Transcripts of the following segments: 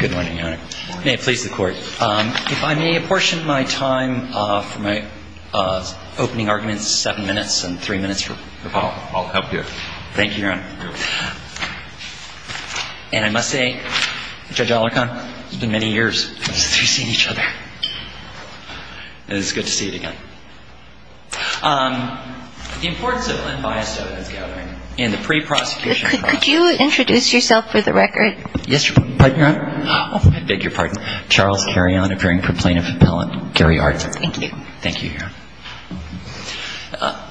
Good morning, Your Honor. May it please the Court. If I may apportion my time for my opening arguments, seven minutes and three minutes. I'll help you. Thank you, Your Honor. And I must say, Judge Alarcon, it's been many years since we've seen each other. It's good to see you again. The importance of unbiased evidence gathering in the pre-prosecution process. Could you introduce yourself for the record? Yes, Your Honor. I beg your pardon. Charles Carrion, appearing for Plaintiff Appellant, Gary Arden. Thank you. Thank you, Your Honor.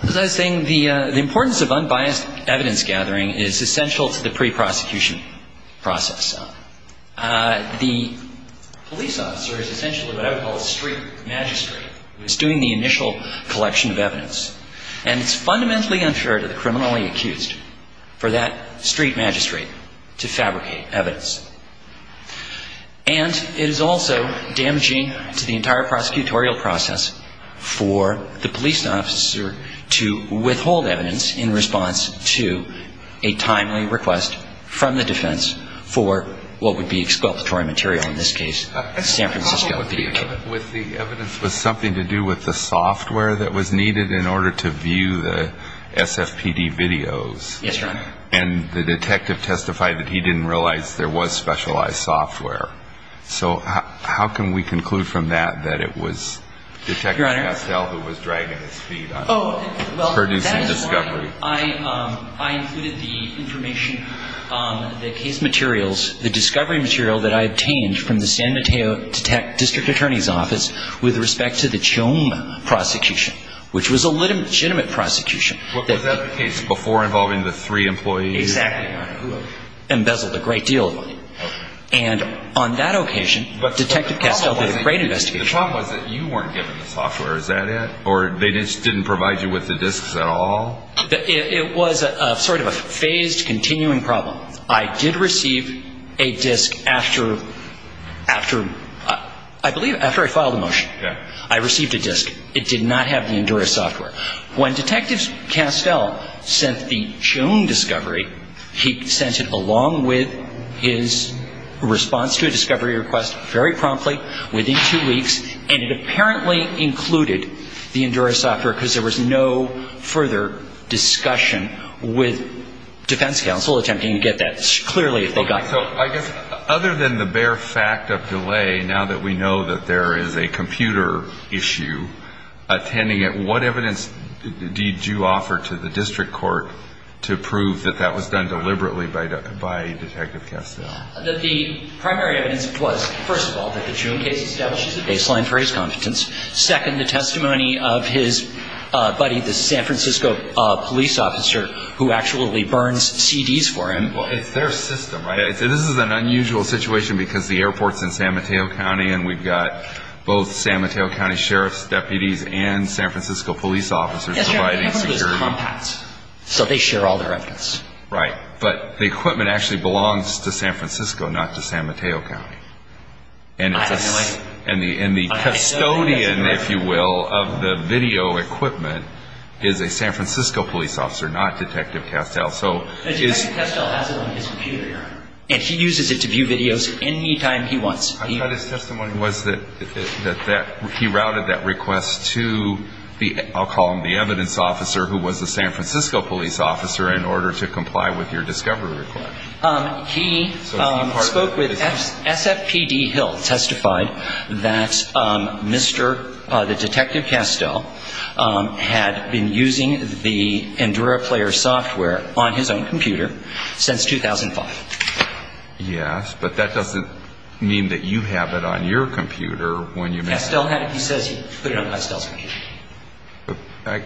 As I was saying, the importance of unbiased evidence gathering is essential to the pre-prosecution process. The police officer is essentially what I would call a street magistrate who is doing the initial collection of evidence. And it's fundamentally unfair to the criminally accused for that street magistrate to fabricate evidence. And it is also damaging to the entire prosecutorial process for the police officer to withhold evidence in response to a timely request from the defense for what would be exculpatory material, in this case, San Francisco PDK. The problem with the evidence was something to do with the software that was needed in San Mateo's. Yes, Your Honor. And the detective testified that he didn't realize there was specialized software. So how can we conclude from that that it was Detective Castell who was dragging his feet on producing discovery? Oh, well, that is why I included the information, the case materials, the discovery material that I obtained from the San Mateo District Attorney's Office with respect to the Choma prosecution, which was a legitimate prosecution. Was that the case before involving the three employees? Exactly, Your Honor. Who embezzled a great deal of money. And on that occasion, Detective Castell did a great investigation. The problem was that you weren't given the software. Is that it? Or they just didn't provide you with the disks at all? It was sort of a phased continuing problem. I did receive a disk after, I believe after I filed a motion. I received a disk. It did not have the Endura software. When Detective Castell sent the Choma discovery, he sent it along with his response to a discovery request very promptly, within two weeks, and it apparently included the Endura software because there was no further discussion with defense counsel attempting to get that. Clearly, if they got that. So I guess other than the bare fact of delay, now that we know that there is a computer issue attending to it, what evidence did you offer to the district court to prove that that was done deliberately by Detective Castell? That the primary evidence was, first of all, that the Chuma case establishes a baseline for his competence. Second, the testimony of his buddy, the San Francisco police officer, who actually burns CDs for him. Well, it's their system, right? This is an unusual situation because the airport's in San Mateo County, and we've got both San Mateo County sheriffs, deputies, and San Francisco police officers providing security. They have one of those compacts, so they share all their evidence. Right. But the equipment actually belongs to San Francisco, not to San Mateo County. And the custodian, if you will, of the video equipment is a San Francisco police officer, not Detective Castell. Detective Castell has it on his computer, and he uses it to view videos any time he wants. I thought his testimony was that he routed that request to the, I'll call him the evidence officer, who was the San Francisco police officer, in order to comply with your discovery request. He spoke with SFPD Hill, testified that Mr. Detective Castell had been using the EnduraPlayer software on his own computer since 2005. Yes, but that doesn't mean that you have it on your computer. Castell has it. He says he put it on Castell's computer.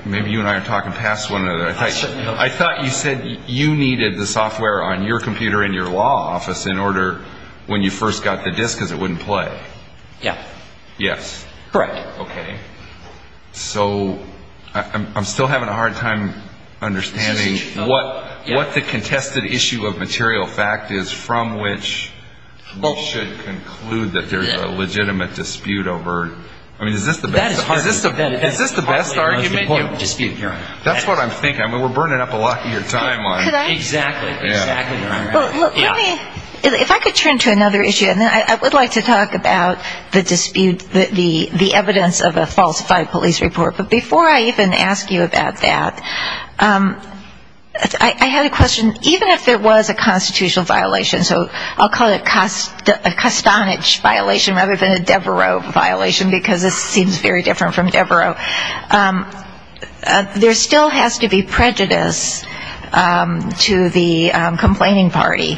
Maybe you and I are talking past one another. I thought you said you needed the software on your computer in your law office in order, when you first got the disc, because it wouldn't play. Yeah. Correct. Okay. So I'm still having a hard time understanding what the contested issue of material fact is, from which we should conclude that there's a legitimate dispute over. I mean, is this the best argument? That's what I'm thinking. I mean, we're burning up a lot of your time on it. Exactly. Exactly. If I could turn to another issue, and then I would like to talk about the dispute, the evidence of a falsified police report. But before I even ask you about that, I had a question. Even if there was a constitutional violation, so I'll call it a Castanich violation rather than a Devereux violation, because this seems very different from Devereux, there still has to be prejudice to the complaining party.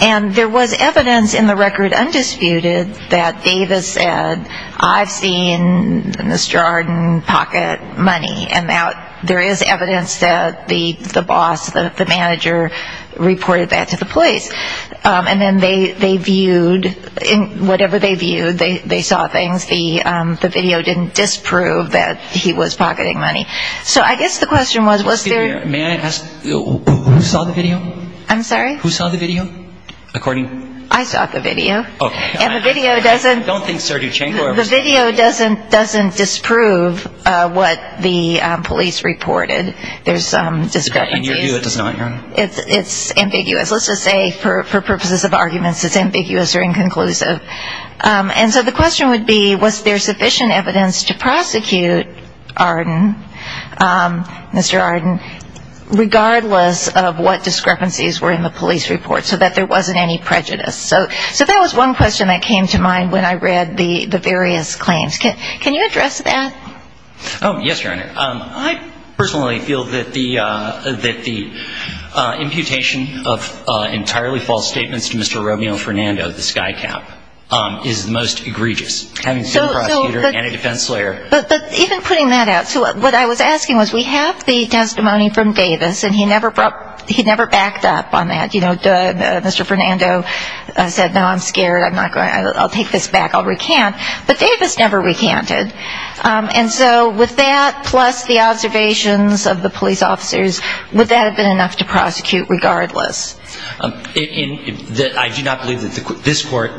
And there was evidence in the record undisputed that Davis said, I've seen in this jarred pocket money, and there is evidence that the boss, the manager, reported that to the police. And then they viewed, whatever they viewed, they saw things. The video didn't disprove that he was pocketing money. May I ask, who saw the video? I saw the video. The video doesn't disprove what the police reported. There's some discrepancy. It's ambiguous. Let's just say for purposes of arguments, it's ambiguous or inconclusive. And so the question would be, was there sufficient evidence to prosecute Arden, Mr. Arden, regardless of what discrepancies were in the police report so that there wasn't any prejudice. So that was one question that came to mind when I read the various claims. Can you address that? Oh, yes, Your Honor. I personally feel that the imputation of entirely false statements to Mr. Romeo Fernando, the sky cap, is the most egregious. But even putting that out, what I was asking was, we have the testimony from Davis, and he never backed up on that. Mr. Fernando said, no, I'm scared. I'll take this back. I'll recant. But Davis never recanted. And so with that, plus the observations of the police officers, would that have been enough to prosecute regardless? I do not believe that this court,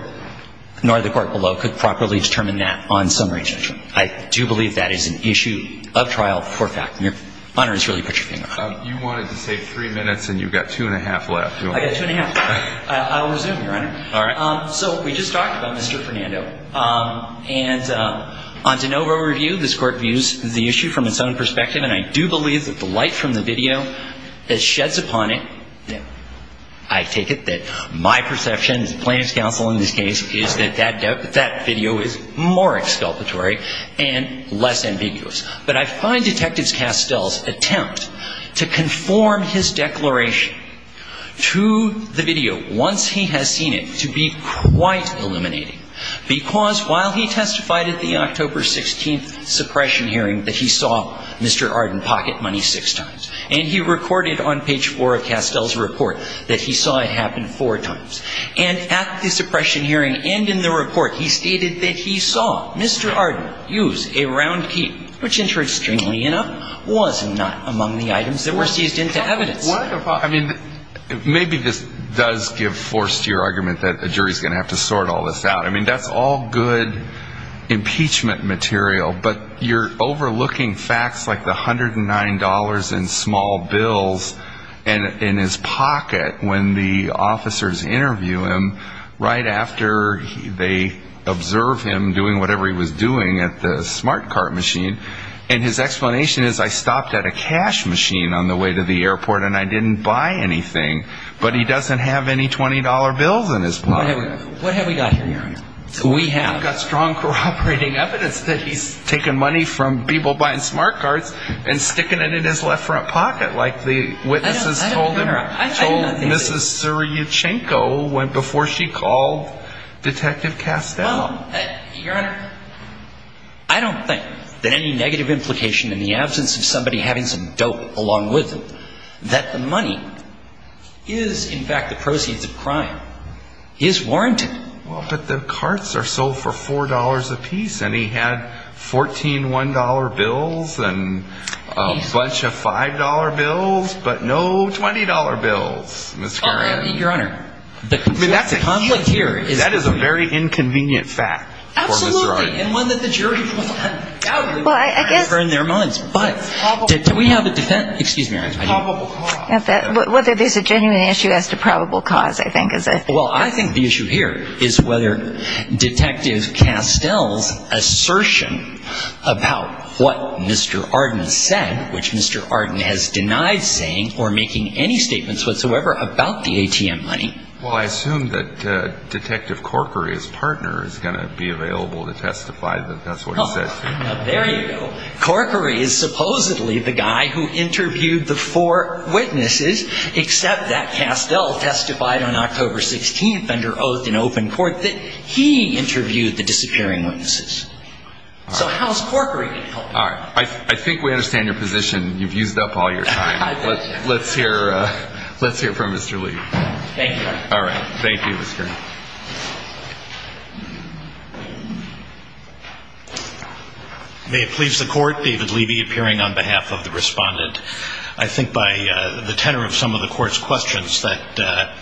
nor the court below, could properly determine that on summary judgment. I do believe that is an issue of trial for fact. You wanted to save three minutes, and you've got two and a half left. I'll resume, Your Honor. So we just talked about Mr. Fernando. And on de novo review, this court views the issue from its own perspective, and I do believe that the light from the video that sheds upon it, I take it that my perception as plaintiff's counsel in this case, is that that video is more exculpatory and less ambiguous. But I find Detective Castell's attempt to conform his declaration to the video, once he has seen it, to be quite illuminating. Because while he testified at the October 16th suppression hearing that he saw Mr. Arden pocket money six times, and he recorded on page four of Castell's report that he saw it happen four times, and at the suppression hearing and in the report, he stated that he saw Mr. Arden use a round key, which interestingly enough, was not among the items that were seized into evidence. Maybe this does give force to your argument that a jury's going to have to sort all this out. That's all good impeachment material, but you're overlooking facts like the $109 in small bills in his pocket when the officers interview him, right after they observe him doing whatever he was doing at the smart cart machine. And his explanation is, I stopped at a cash machine on the way to the airport and I didn't buy anything, but he doesn't have any $20 bills in his pocket. What have we got here? We have got strong corroborating evidence that he's taken money from people buying smart carts and sticking it in his left front pocket, like the witnesses told him, told Mrs. Suryuchenko before she called Detective Castell. Well, Your Honor, I don't think that any negative implication in the absence of somebody having some dope along with them, that the money is in fact the proceeds of crime, is warranted. Well, but the carts are sold for $4 a piece and he had 14 $1 bills and a bunch of $5 bills, but no $20 bills, Ms. Garan. Your Honor, the conflict here is... That is a very inconvenient fact for Ms. Garan. And one that the jury will undoubtedly prefer in their minds. But do we have a defense? Excuse me, Your Honor. Whether there's a genuine issue as to probable cause, I think is a... Well, I think the issue here is whether Detective Castell's assertion about what Mr. Arden said, which Mr. Arden has denied saying or making any statements whatsoever about the ATM money. Well, I assume that Detective Corkery's partner is going to be available to testify that that's what he said. There you go. Corkery is supposedly the guy who interviewed the four witnesses, except that Castell testified on October 16th under oath in open court that he interviewed the disappearing witnesses. So how is Corkery going to help? I think we understand your position. You've used up all your time. Let's hear from Mr. Levy. May it please the Court, David Levy appearing on behalf of the Respondent. I think by the tenor of some of the Court's questions that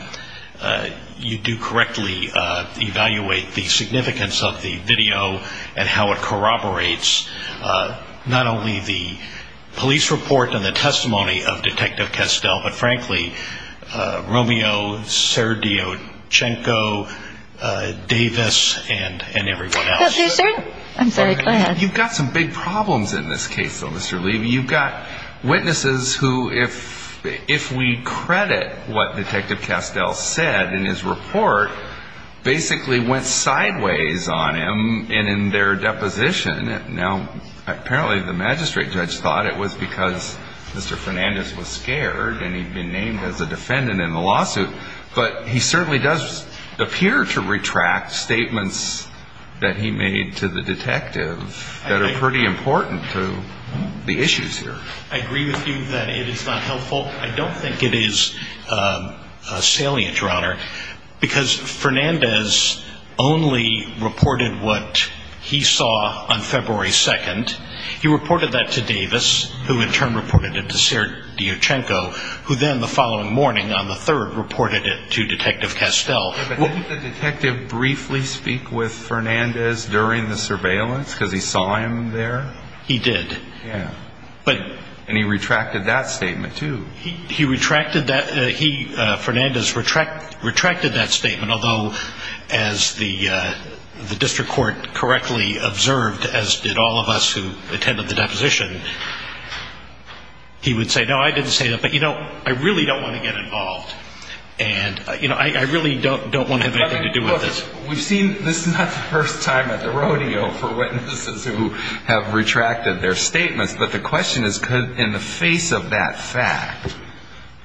you do correctly evaluate the significance of the video and how it corroborates not only the police report and the testimony of Detective Castell, but frankly, Romeo Serdiochenko, Davis, and everyone else. You've got some big problems in this case, though, Mr. Levy. You've got witnesses who, if we credit what Detective Castell said in his report, basically went sideways on him in their deposition. Now, apparently the magistrate judge thought it was because Mr. Fernandez was scared and he'd been named as a defendant in the lawsuit. But he certainly does appear to retract statements that he made to the detective that are pretty important to the issues here. I agree with you that it is not helpful. I don't think it is salient, Your Honor. Because Fernandez only reported what he saw on February 2nd. He reported that to Davis, who in turn reported it to Serdiochenko, who then the following morning on the 3rd reported it to Detective Castell. Didn't the detective briefly speak with Fernandez during the surveillance? Because he saw him there? He did. And he retracted that statement, too. Fernandez retracted that statement, although, as the district court correctly observed, as did all of us who attended the deposition, he would say, no, I didn't say that. But, you know, I really don't want to get involved. And I really don't want to have anything to do with this. We've seen, this is not the first time at the rodeo for witnesses who have retracted their statements. But the question is, in the face of that fact,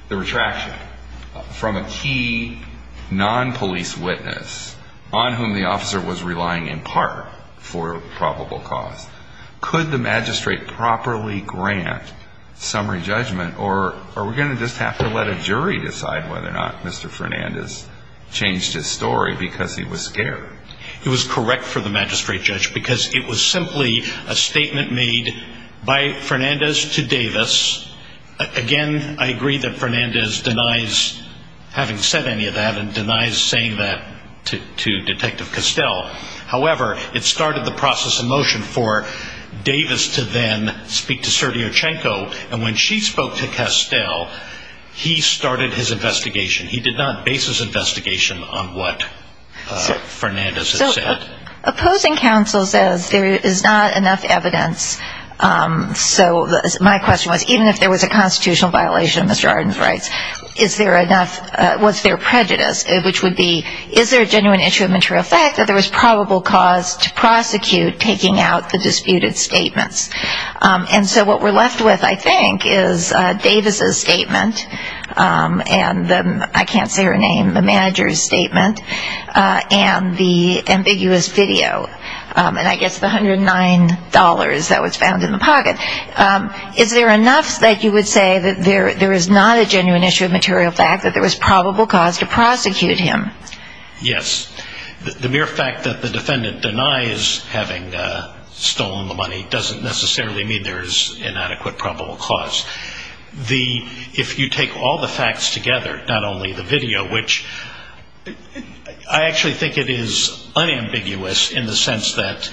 the retraction from a key non-police witness on whom the officer was relying in part for probable cause, could the magistrate properly grant summary judgment? Or are we going to just have to let a jury decide whether or not Mr. Fernandez changed his story because he was scared? It was correct for the magistrate judge because it was simply a statement made by Fernandez to Davis. Again, I agree that Fernandez denies having said any of that and denies saying that to Detective Castell. However, it started the process of motion for Davis to then speak to Sertiochenko. And when she spoke to Castell, he started his investigation. He did not base his investigation on what Fernandez had said. So, opposing counsel says there is not enough evidence. So, my question was, even if there was a constitutional violation of Mr. Arden's rights, was there prejudice? Which would be, is there a genuine issue of material fact that there was probable cause to prosecute taking out the disputed statements? And so, what we're left with, I think, is Davis' statement and the, I can't say her name, the manager's statement and the ambiguous video. And I guess the $109 that was found in the pocket. Is there enough that you would say that there is not a genuine issue of material fact that there was probable cause to prosecute him? Yes. The mere fact that the defendant denies having stolen the money doesn't necessarily mean there is inadequate probable cause. If you take all the facts together, not only the video, which I actually think it is unambiguous in the sense that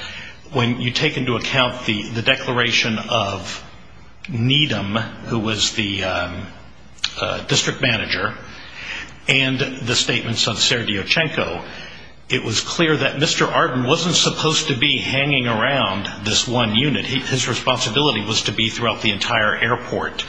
when you take into account the declaration of Needham, who was the district manager, and the statements of Serdyukchenko, it was clear that Mr. Arden wasn't supposed to be hanging around this one unit. His responsibility was to be throughout the entire airport.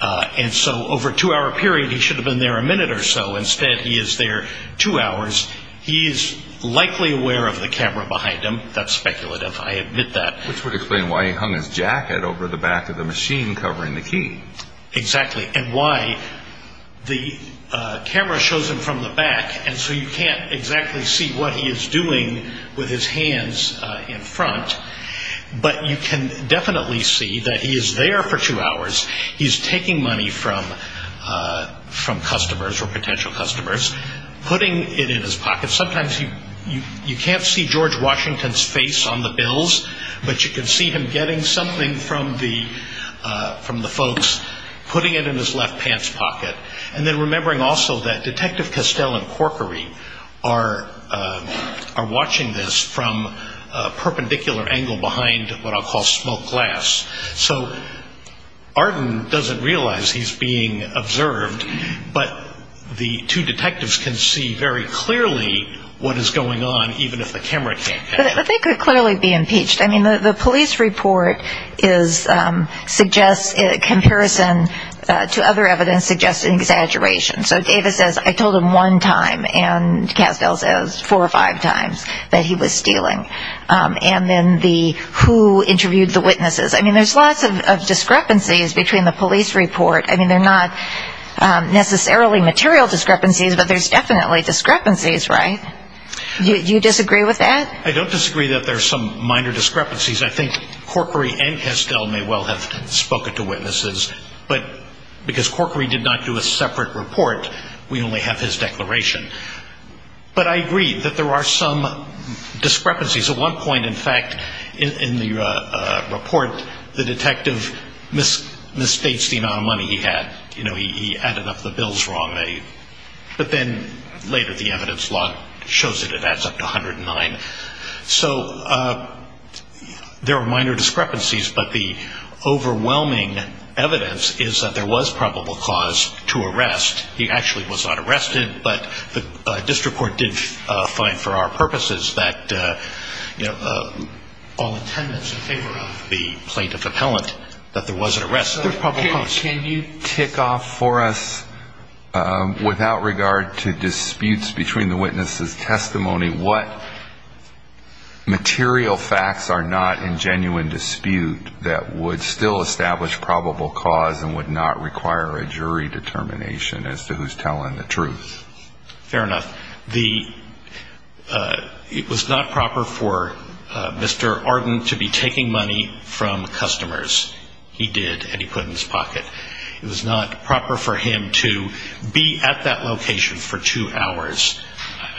And so, over a two-hour period, he should have been there a minute or so. Instead, he is there two hours. He is likely aware of the camera behind him. That's speculative. I admit that. Which would explain why he hung his jacket over the back of the machine covering the key. Exactly. And why the camera shows him from the back and so you can't exactly see what he is doing with his hands in front. But you can definitely see that he is there for two hours. He is taking money from customers or potential customers, putting it in his pocket. Sometimes you can't see George Washington's face on the bills, but you can see him getting something from the folks, putting it in his left pants pocket. And then remembering also that Detective Castell and Corkery are watching this from a perpendicular angle behind what I'll call smoke glass. So, Arden doesn't realize he is being observed, but the two detectives can see very clearly what is going on, even if the camera can't catch it. But they could clearly be impeached. I mean, the police report suggests, in comparison to other evidence, suggests an exaggeration. So Davis says, I told him one time and Castell says four or five times that he was stealing. And then the, who interviewed the witnesses? I mean, there's lots of discrepancies between the police report. I mean, they're not necessarily material discrepancies, but there's definitely discrepancies, right? Do you disagree with that? I don't disagree that there's some minor discrepancies. I think Corkery and Castell may well have spoken to witnesses, but because Corkery did not do a separate report, we only have his declaration. But I agree that there are some discrepancies. At one point, in fact, in the report, the detective misstates the amount of money he had. You know, he added up the bills wrongly. But then later the evidence log shows that it adds up to 109. So there are minor discrepancies, but the overwhelming evidence is that there was probable cause to arrest. He actually was not arrested, but the district court did find for our purposes that, you know, all attendance in favor of the plaintiff appellant, that there was an arrest. There's probable cause. Can you tick off for us, without regard to disputes between the witnesses' testimony, what material facts are not in genuine dispute that would still establish probable cause and would not require a jury determination as to who's telling the truth? It was not proper for him to be at that location for two hours.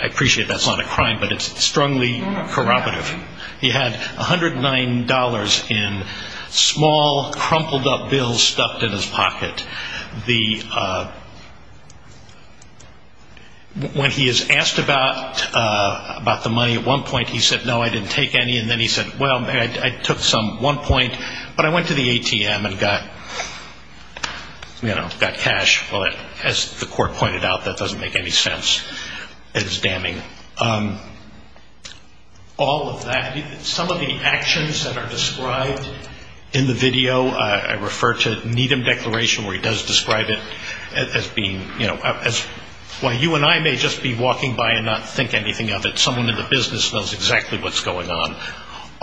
I appreciate that's not a crime, but it's strongly corroborative. He had $109 in small, crumpled up bills stuffed in his pocket. The when he is asked about the money, at one point he said, no, I didn't take any. And then he said, well, I took some, one point, but I went to the ATM and got cash. Well, as the court pointed out, that doesn't make any sense. It's damning. All of that, some of the actions that are described in the video, I refer to Needham Declaration where he does describe it as being, you know, while you and I may just be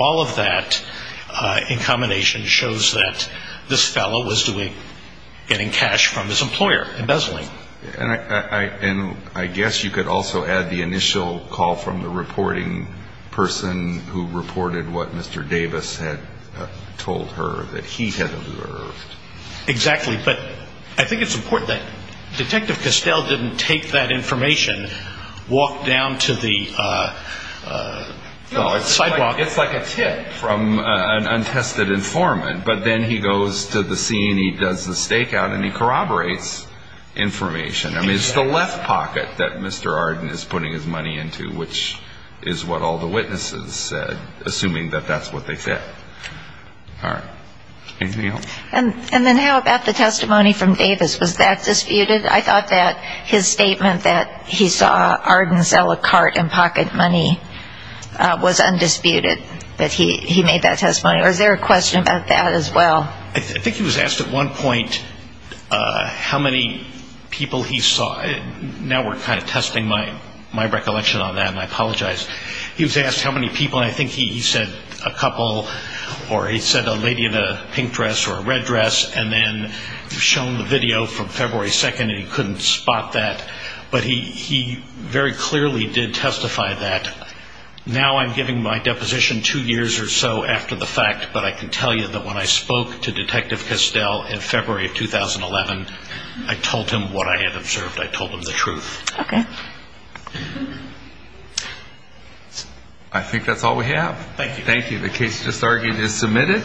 all of that in combination shows that this fellow was doing, getting cash from his employer, embezzling. And I guess you could also add the initial call from the reporting person who reported what Mr. Davis had told her that he had observed. Exactly. But I think it's important that Detective Castell didn't take that information, walk down to the sidewalk. It's like a tip from an untested informant. But then he goes to the scene, he does the stakeout, and he corroborates information. I mean, it's the left pocket that Mr. Arden is putting his money into, which is what all the witnesses said, assuming that that's what they said. All right. Anything else? And then how about the testimony from Davis? Was that disputed? I thought that his statement that he saw Arden sell a cart and pocket money was undisputed that he made that testimony. Or is there a question about that as well? I think he was asked at one point how many people he saw. Now we're kind of testing my recollection on that, and I apologize. He was asked how many people, and I think he said a couple or he said a lady in a pink dress or a red dress, and then shown the video from February 2nd, and he couldn't spot that. But he very clearly did testify that. Now I'm giving my deposition two years or so after the fact, but I can tell you that when I spoke to Detective Castell in February of 2011, I told him what I had observed. I told him the truth. Okay. I think that's all we have. Thank you. Thank you. The case just argued is submitted.